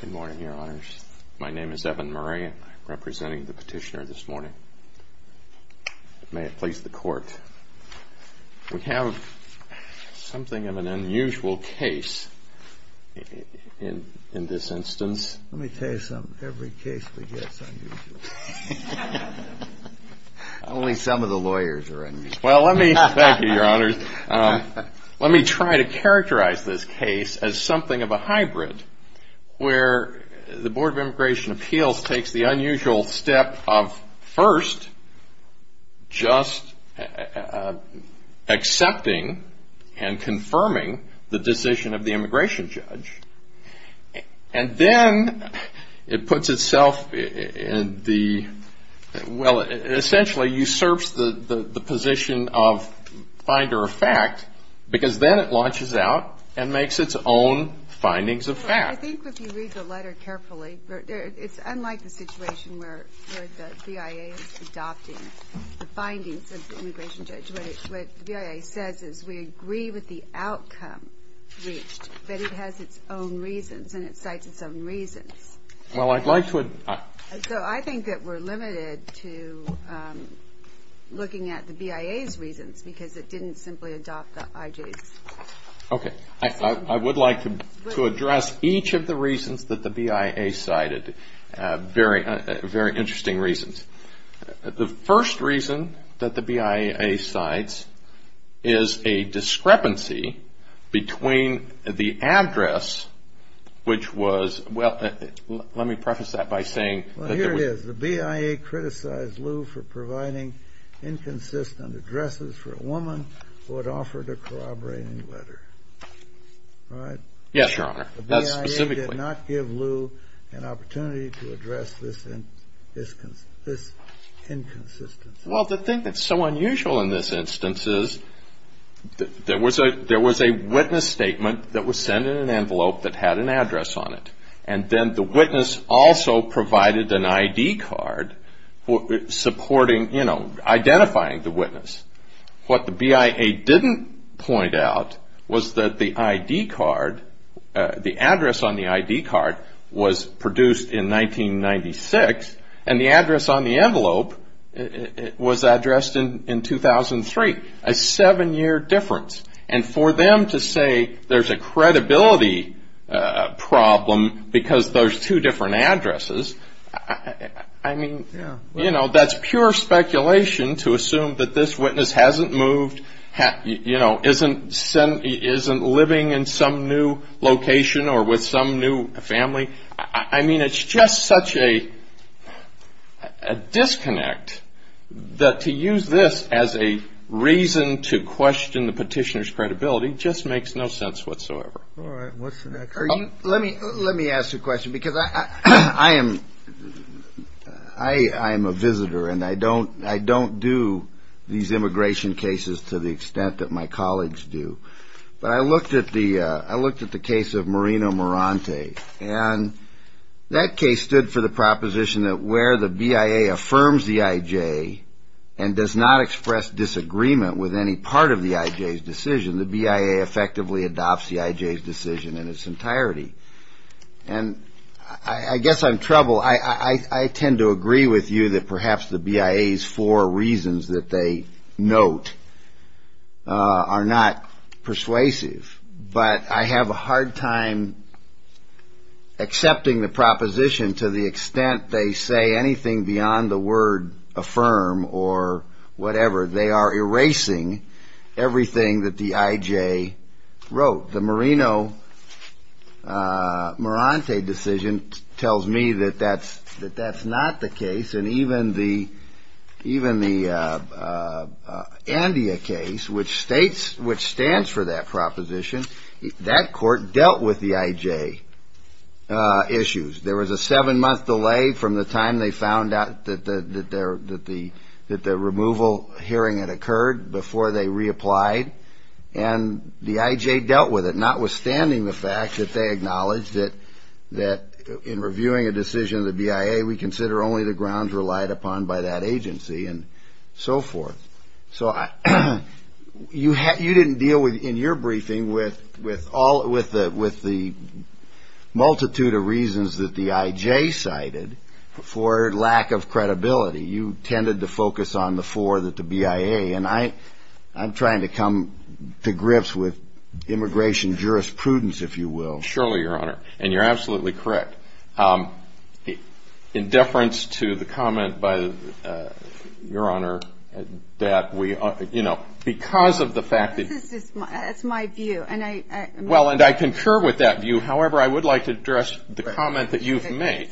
Good morning, Your Honors. My name is Evan Murray. I'm representing the petitioner this morning. May it please the Court, we have something of an unusual case in this instance. Let me tell you something, every case we get is unusual. Only some of the lawyers are unusual. Thank you, Your Honors. Let me try to characterize this case as something of a hybrid where the Board of Immigration Appeals takes the unusual step of first just accepting and confirming the decision of the immigration judge. And then it puts itself in the, well, it essentially usurps the position of finder of fact, because then it launches out and makes its own findings of fact. I think if you read the letter carefully, it's unlike the situation where the BIA is adopting the outcome reached, but it has its own reasons and it cites its own reasons. So I think that we're limited to looking at the BIA's reasons because it didn't simply adopt the IJ's. I would like to address each of the reasons that the BIA cited, very interesting reasons. The first reason that the BIA cites is a discrepancy between the address, which was, well, let me preface that by saying Well, here it is. The BIA criticized Lew for providing inconsistent addresses for a woman who had offered a corroborating letter. Yes, Your Honor. The BIA did not give Lew an opportunity to address this inconsistency. Well, the thing that's so unusual in this instance is there was a witness statement that was sent in an envelope that had an address on it. And then the witness also provided an ID card supporting, you know, identifying the witness. What the BIA didn't point out was that the ID card, the address on the ID card was produced in 1996. And the address on the envelope was addressed in 2003, a seven-year difference. And for them to say there's a credibility problem because there's two different addresses, I mean, you know, that's pure speculation to assume that this witness hasn't moved, you know, isn't living in some new location or with some new family. I mean, it's just such a disconnect that to use this as a reason to question the petitioner's credibility just makes no sense whatsoever. Let me ask you a question because I am a visitor and I don't do these immigration cases to the extent that my colleagues do. But I looked at the case of Marina Morante. And that case stood for the proposition that where the BIA affirms the IJ and does not express disagreement with any part of the IJ's decision, the BIA effectively adopts the IJ's decision in its entirety. And I guess I'm trouble. I tend to agree with you that perhaps the BIA's four reasons that they note are not persuasive. But I have a hard time accepting the proposition to the extent they say anything beyond the word affirm or whatever. They are erasing everything that the IJ wrote. The Marina Morante decision tells me that that's not the case. And even the Andea case, which stands for that proposition, that court dealt with the IJ issues. There was a seven-month delay from the time they found out that the removal hearing had occurred before they reapplied. And the IJ dealt with it, notwithstanding the fact that they acknowledged that in reviewing a decision of the BIA, we consider only the grounds relied upon by that agency and so forth. So you didn't deal in your briefing with the multitude of reasons that the IJ cited for lack of credibility. You tended to focus on the four that the BIA. And I'm trying to come to grips with immigration jurisprudence, if you will. Surely, Your Honor. And you're absolutely correct. In deference to the comment by, Your Honor, that we, you know, because of the fact that. That's my view. Well, and I concur with that view. However, I would like to address the comment that you've made.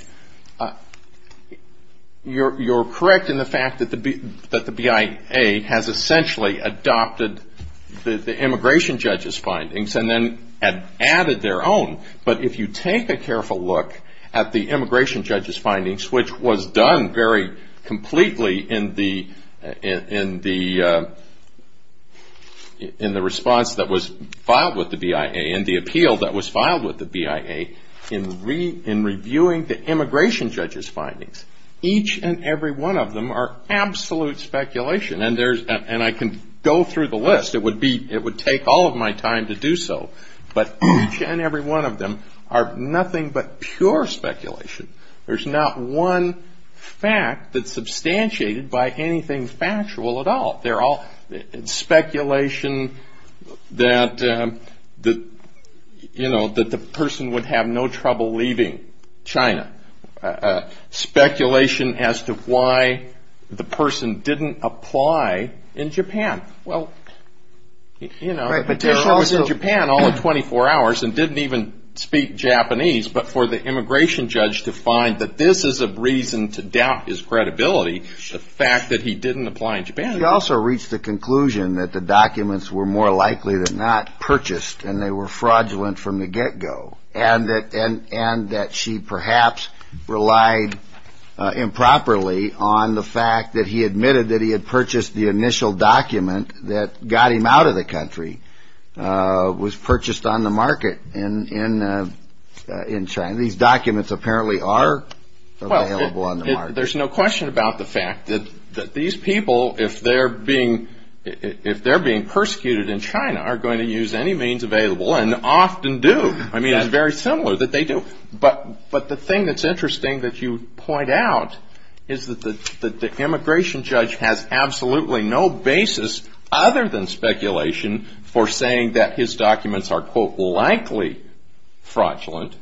You're correct in the fact that the BIA has essentially adopted the immigration judge's findings and then added their own. But if you take a careful look at the immigration judge's findings, which was done very completely in the response that was filed with the BIA and the appeal that was filed with the BIA, in reviewing the immigration judge's findings, each and every one of them are absolute speculation. And I can go through the list. It would take all of my time to do so. But each and every one of them are nothing but pure speculation. There's not one fact that's substantiated by anything factual at all. They're all speculation that, you know, that the person would have no trouble leaving China. Speculation as to why the person didn't apply in Japan. Well, you know, the person was in Japan all of 24 hours and didn't even speak Japanese. But for the immigration judge to find that this is a reason to doubt his credibility, the fact that he didn't apply in Japan. He also reached the conclusion that the documents were more likely than not purchased and they were fraudulent from the get-go. And that she perhaps relied improperly on the fact that he admitted that he had purchased the initial document that got him out of the country, was purchased on the market in China. These documents apparently are available on the market. Well, there's no question about the fact that these people, if they're being persecuted in China, are going to use any means available and often do. I mean, it's very similar that they do. But the thing that's interesting that you point out is that the immigration judge has absolutely no basis other than speculation for saying that his documents are, quote, likely fraudulent.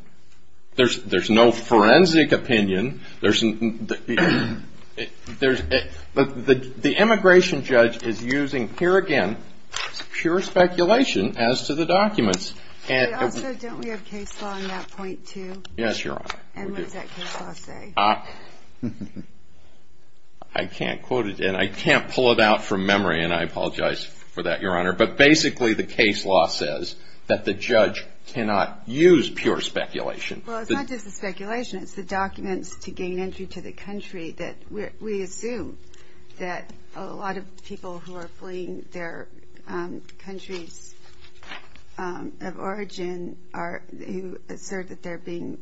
There's no forensic opinion. The immigration judge is using, here again, pure speculation as to the documents. But also, don't we have case law on that point, too? Yes, Your Honor. And what does that case law say? I can't quote it, and I can't pull it out from memory, and I apologize for that, Your Honor. But basically, the case law says that the judge cannot use pure speculation. Well, it's not just the speculation. It's the documents to gain entry to the country that we assume that a lot of people who are fleeing their countries of origin who assert that they're being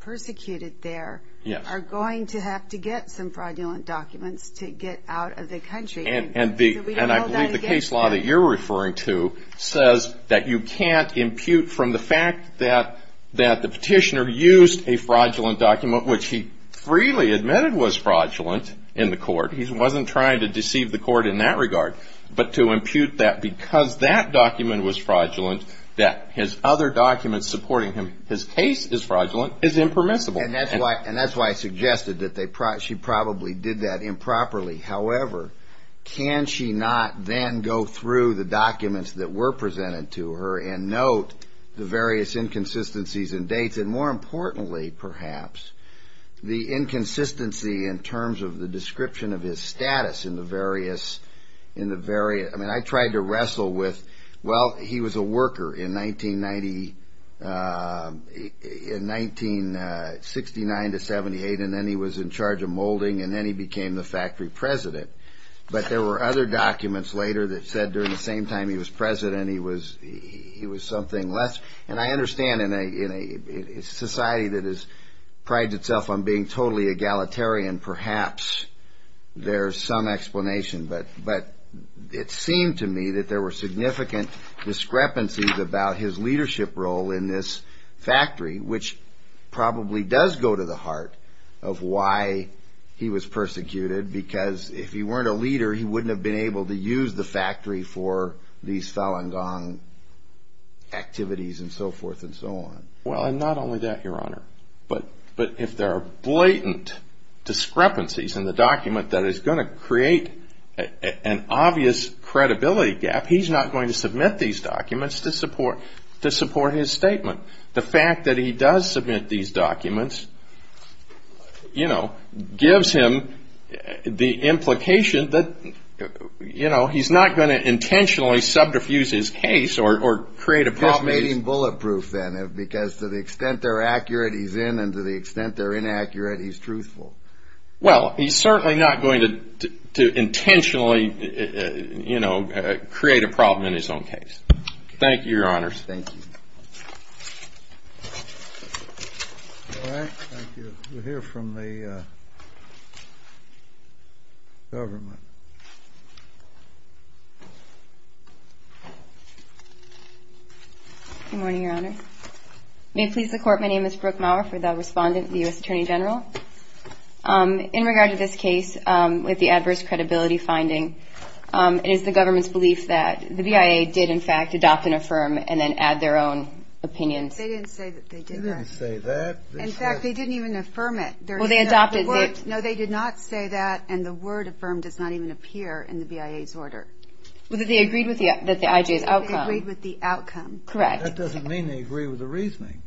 persecuted there are going to have to get some fraudulent documents to get out of the country. And I believe the case law that you're referring to says that you can't impute from the fact that the petitioner used a fraudulent document, which he freely admitted was fraudulent in the court. He wasn't trying to deceive the court in that regard. But to impute that because that document was fraudulent, that his other documents supporting him, his case is fraudulent, is impermissible. And that's why I suggested that she probably did that improperly. However, can she not then go through the documents that were presented to her and note the various inconsistencies in dates, and more importantly, perhaps, the inconsistency in terms of the description of his status in the various – I mean, I tried to wrestle with – well, he was a worker in 1969 to 78, and then he was in charge of molding, and then he became the factory president. But there were other documents later that said during the same time he was president, he was something less – and I understand in a society that prides itself on being totally egalitarian, perhaps there's some explanation. But it seemed to me that there were significant discrepancies about his leadership role in this factory, which probably does go to the heart of why he was persecuted, because if he weren't a leader, he wouldn't have been able to use the factory for these Falun Gong activities and so forth and so on. Well, and not only that, Your Honor, but if there are blatant discrepancies in the document that is going to create an obvious credibility gap, he's not going to submit these documents to support his statement. The fact that he does submit these documents, you know, gives him the implication that, you know, he's not going to intentionally subterfuge his case or create a problem – Just making bulletproof, then, because to the extent they're accurate, he's in, and to the extent they're inaccurate, he's truthful. Well, he's certainly not going to intentionally, you know, create a problem in his own case. Thank you, Your Honors. Thank you. All right. Thank you. We'll hear from the government. Good morning, Your Honor. May it please the Court, my name is Brooke Maurer for the respondent, the U.S. Attorney General. In regard to this case with the adverse credibility finding, it is the government's belief that the BIA did, in fact, adopt and affirm and then add their own opinions. They didn't say that they did that. They didn't say that. In fact, they didn't even affirm it. Well, they adopted it. No, they did not say that, and the word affirm does not even appear in the BIA's order. Well, they agreed with the IJ's outcome. They agreed with the outcome. Correct. That doesn't mean they agree with the reasoning.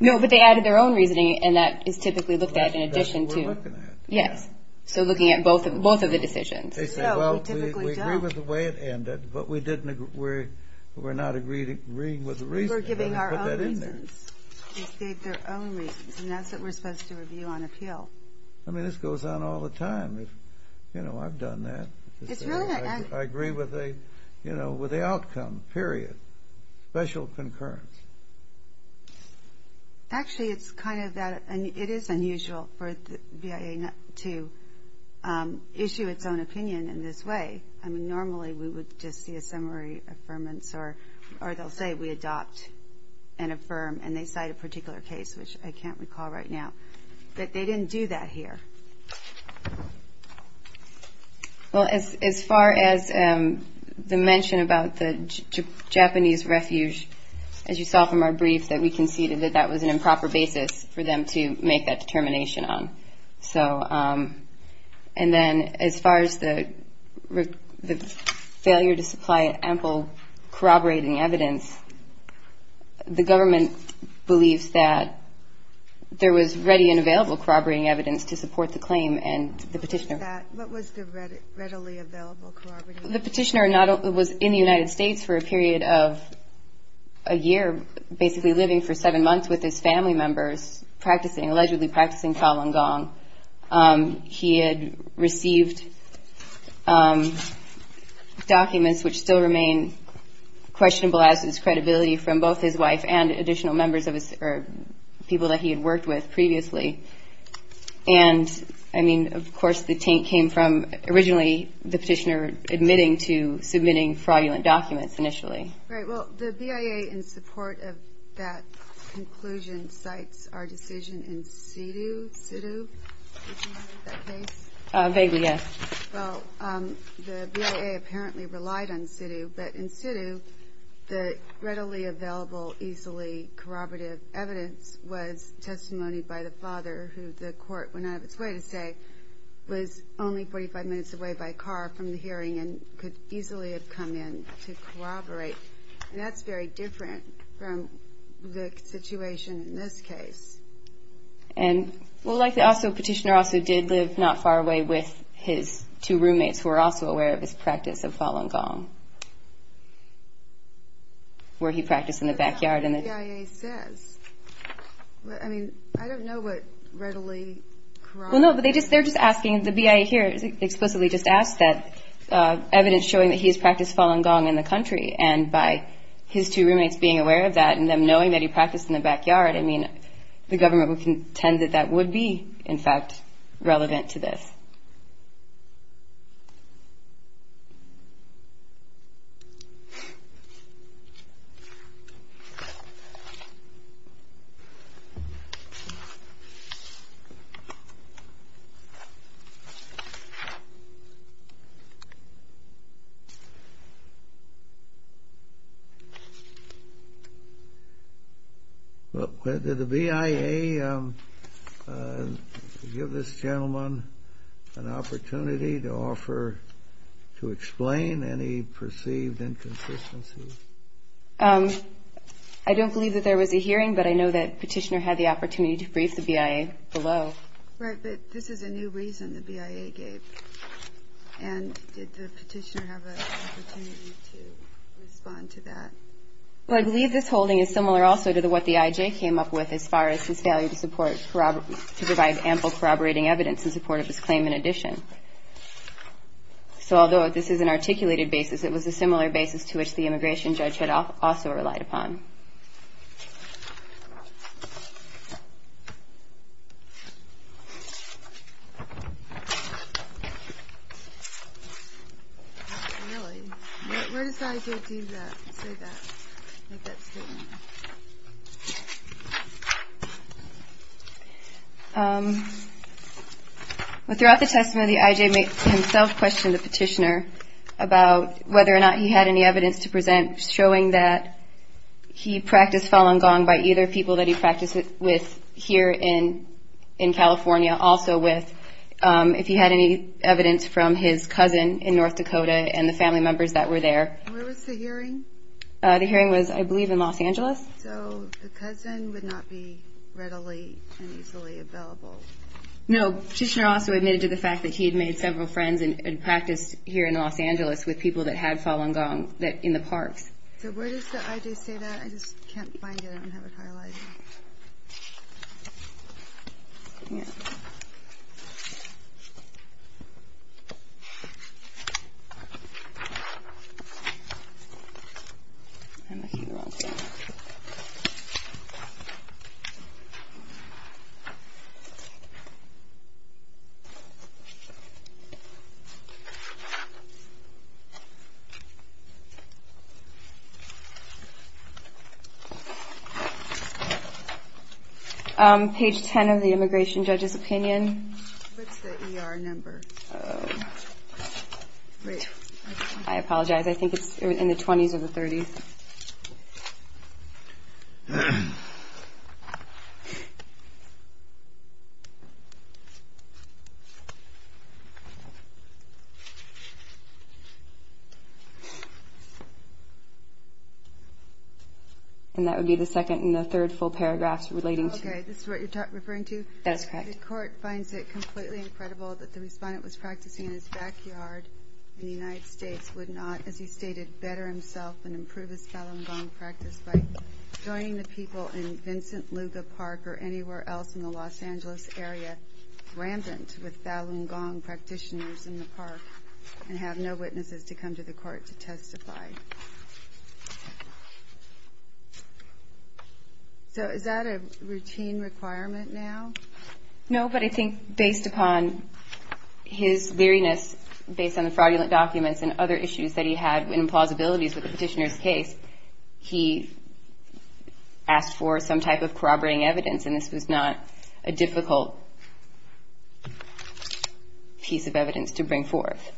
No, but they added their own reasoning, and that is typically looked at in addition to – Well, that's what we're looking at. Yes. So looking at both of the decisions. They say, well, we agree with the way it ended, but we're not agreeing with the reasoning. We were giving our own reasons. They gave their own reasons, and that's what we're supposed to review on appeal. I mean, this goes on all the time. You know, I've done that. It's really not – I agree with the outcome, period. Special concurrence. Actually, it's kind of that – it is unusual for the BIA to issue its own opinion in this way. I mean, normally we would just see a summary affirmance, or they'll say we adopt and affirm, and they cite a particular case, which I can't recall right now. But they didn't do that here. Well, as far as the mention about the Japanese refuge, as you saw from our brief, that we conceded that that was an improper basis for them to make that determination on. And then as far as the failure to supply ample corroborating evidence, the government believes that there was ready and available corroborating evidence to support the claim and the petitioner. What was that? What was the readily available corroborating evidence? The petitioner was in the United States for a period of a year, basically living for seven months with his family members, practicing, allegedly practicing Cao Luan Gong. He had received documents which still remain questionable as is credibility from both his wife and additional members or people that he had worked with previously. And, I mean, of course the taint came from originally the petitioner admitting to submitting fraudulent documents initially. Right. Well, the BIA, in support of that conclusion, cites our decision in situ. Did you know of that case? Vaguely, yes. Well, the BIA apparently relied on situ, but in situ the readily available easily corroborative evidence was testimony by the father, who the court went out of its way to say was only 45 minutes away by car from the hearing and could easily have come in to corroborate. And that's very different from the situation in this case. And, well, like the petitioner also did live not far away with his two roommates who were also aware of his practice of Cao Luan Gong, where he practiced in the backyard. I don't know what the BIA says. I mean, I don't know what readily corroborates. Well, no, but they're just asking, the BIA here explicitly just asked that, evidence showing that he has practiced Cao Luan Gong in the country, and by his two roommates being aware of that and them knowing that he practiced in the backyard, I mean the government would contend that that would be, in fact, relevant to this. Well, did the BIA give this gentleman an opportunity to offer to explain any perceived inconsistencies? I don't believe that there was a hearing, but I know that the petitioner had the opportunity to brief the BIA below. Right, but this is a new reason the BIA gave, and did the petitioner have an opportunity to respond to that? Well, I believe this holding is similar also to what the IJ came up with as far as his failure to provide ample corroborating evidence in support of his claim in addition. So although this is an articulated basis, it was a similar basis to which the immigration judge had also relied upon. Really? Where does the IJ do that, say that, make that statement? Well, throughout the testimony, the IJ himself questioned the petitioner about whether or not he had any evidence to present showing that he practiced Falun Gong by either people that he practiced it with here in California, also with if he had any evidence from his cousin in North Dakota and the family members that were there. Where was the hearing? The hearing was, I believe, in Los Angeles. So the cousin would not be readily and easily available. No, the petitioner also admitted to the fact that he had made several friends and practiced here in Los Angeles with people that had Falun Gong in the parks. So where does the IJ say that? I just can't find it. I don't have it highlighted. Let me see. Okay. Page 10 of the immigration judge's opinion. What's the ER number? I apologize. I think it's in the 20s or the 30s. And that would be the second and the third full paragraphs relating to... Okay, this is what you're referring to? That is correct. The court finds it completely incredible that the respondent was practicing in his backyard and the United States would not, as he stated, better himself and improve his Falun Gong practice by joining the people in Vincent Luga Park or anywhere else in the Los Angeles area rambunct with Falun Gong practitioners in the park and have no witnesses to come to the court to testify. Okay. So is that a routine requirement now? No, but I think based upon his leeriness based on the fraudulent documents and other issues that he had and plausibilities with the petitioner's case, he asked for some type of corroborating evidence, and this was not a difficult piece of evidence to bring forth.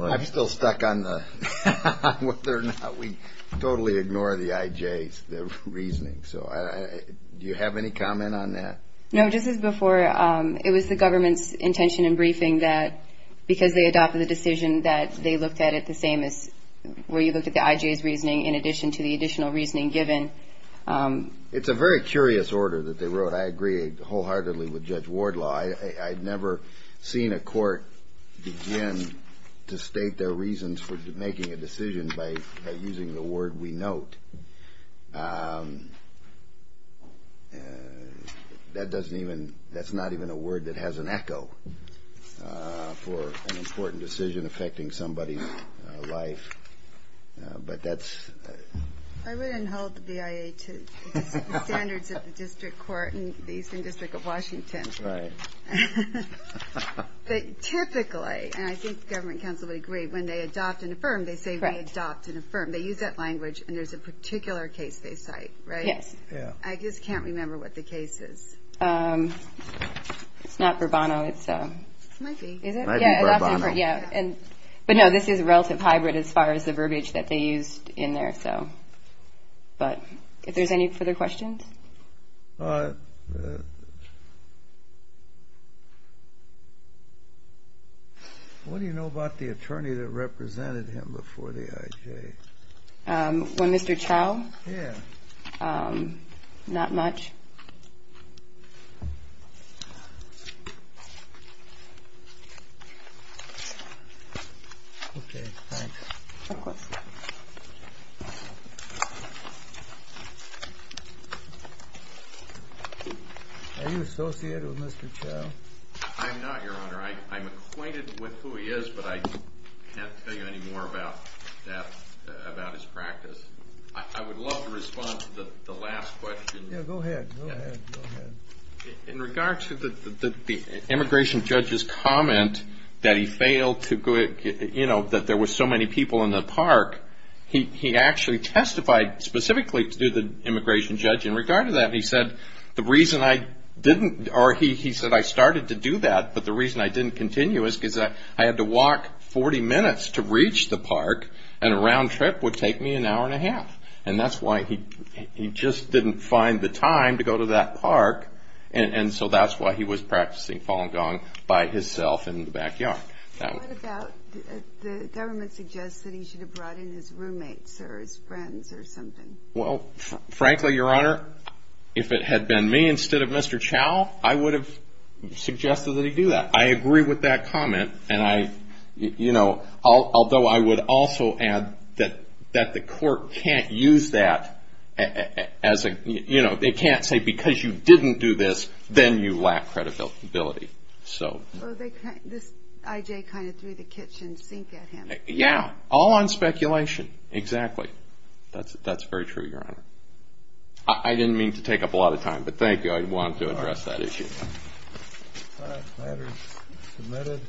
I'm still stuck on whether or not we totally ignore the IJs, the reasoning. So do you have any comment on that? No, just as before, it was the government's intention in briefing that because they adopted the decision that they looked at it the same as where you looked at the IJs reasoning in addition to the additional reasoning given. It's a very curious order that they wrote. I agree wholeheartedly with Judge Wardlaw. I've never seen a court begin to state their reasons for making a decision by using the word we note. That's not even a word that has an echo for an important decision affecting somebody's life. I wouldn't hold the BIA to the standards of the district court in the Eastern District of Washington. Typically, and I think the government counsel would agree, when they adopt and affirm, they say we adopt and affirm. They use that language, and there's a particular case they cite, right? Yes. I just can't remember what the case is. It's not Bourbono. It might be. Is it? It might be Bourbono. But, no, this is relative hybrid as far as the verbiage that they used in there. But if there's any further questions? What do you know about the attorney that represented him before the IJ? Well, Mr. Chow? Yes. Not much. Okay, thanks. No question. Are you associated with Mr. Chow? I'm not, Your Honor. I'm acquainted with who he is, but I can't tell you any more about that, about his practice. I would love to respond to the last question. Yeah, go ahead. Go ahead. Go ahead. In regard to the immigration judge's comment that there were so many people in the park, he actually testified specifically to the immigration judge in regard to that. He said, I started to do that, but the reason I didn't continue is because I had to walk 40 minutes to reach the park, and a round trip would take me an hour and a half. And that's why he just didn't find the time to go to that park, and so that's why he was practicing Falun Gong by himself in the backyard. What about the government suggests that he should have brought in his roommates or his friends or something? Well, frankly, Your Honor, if it had been me instead of Mr. Chow, I would have suggested that he do that. I agree with that comment, and I, you know, although I would also add that the court can't use that as a, you know, they can't say because you didn't do this, then you lack credibility. So this I.J. kind of threw the kitchen sink at him. Yeah, all on speculation. Exactly. That's very true, Your Honor. I didn't mean to take up a lot of time, but thank you. I don't know if I'd want to address that issue. All right, the matter is submitted.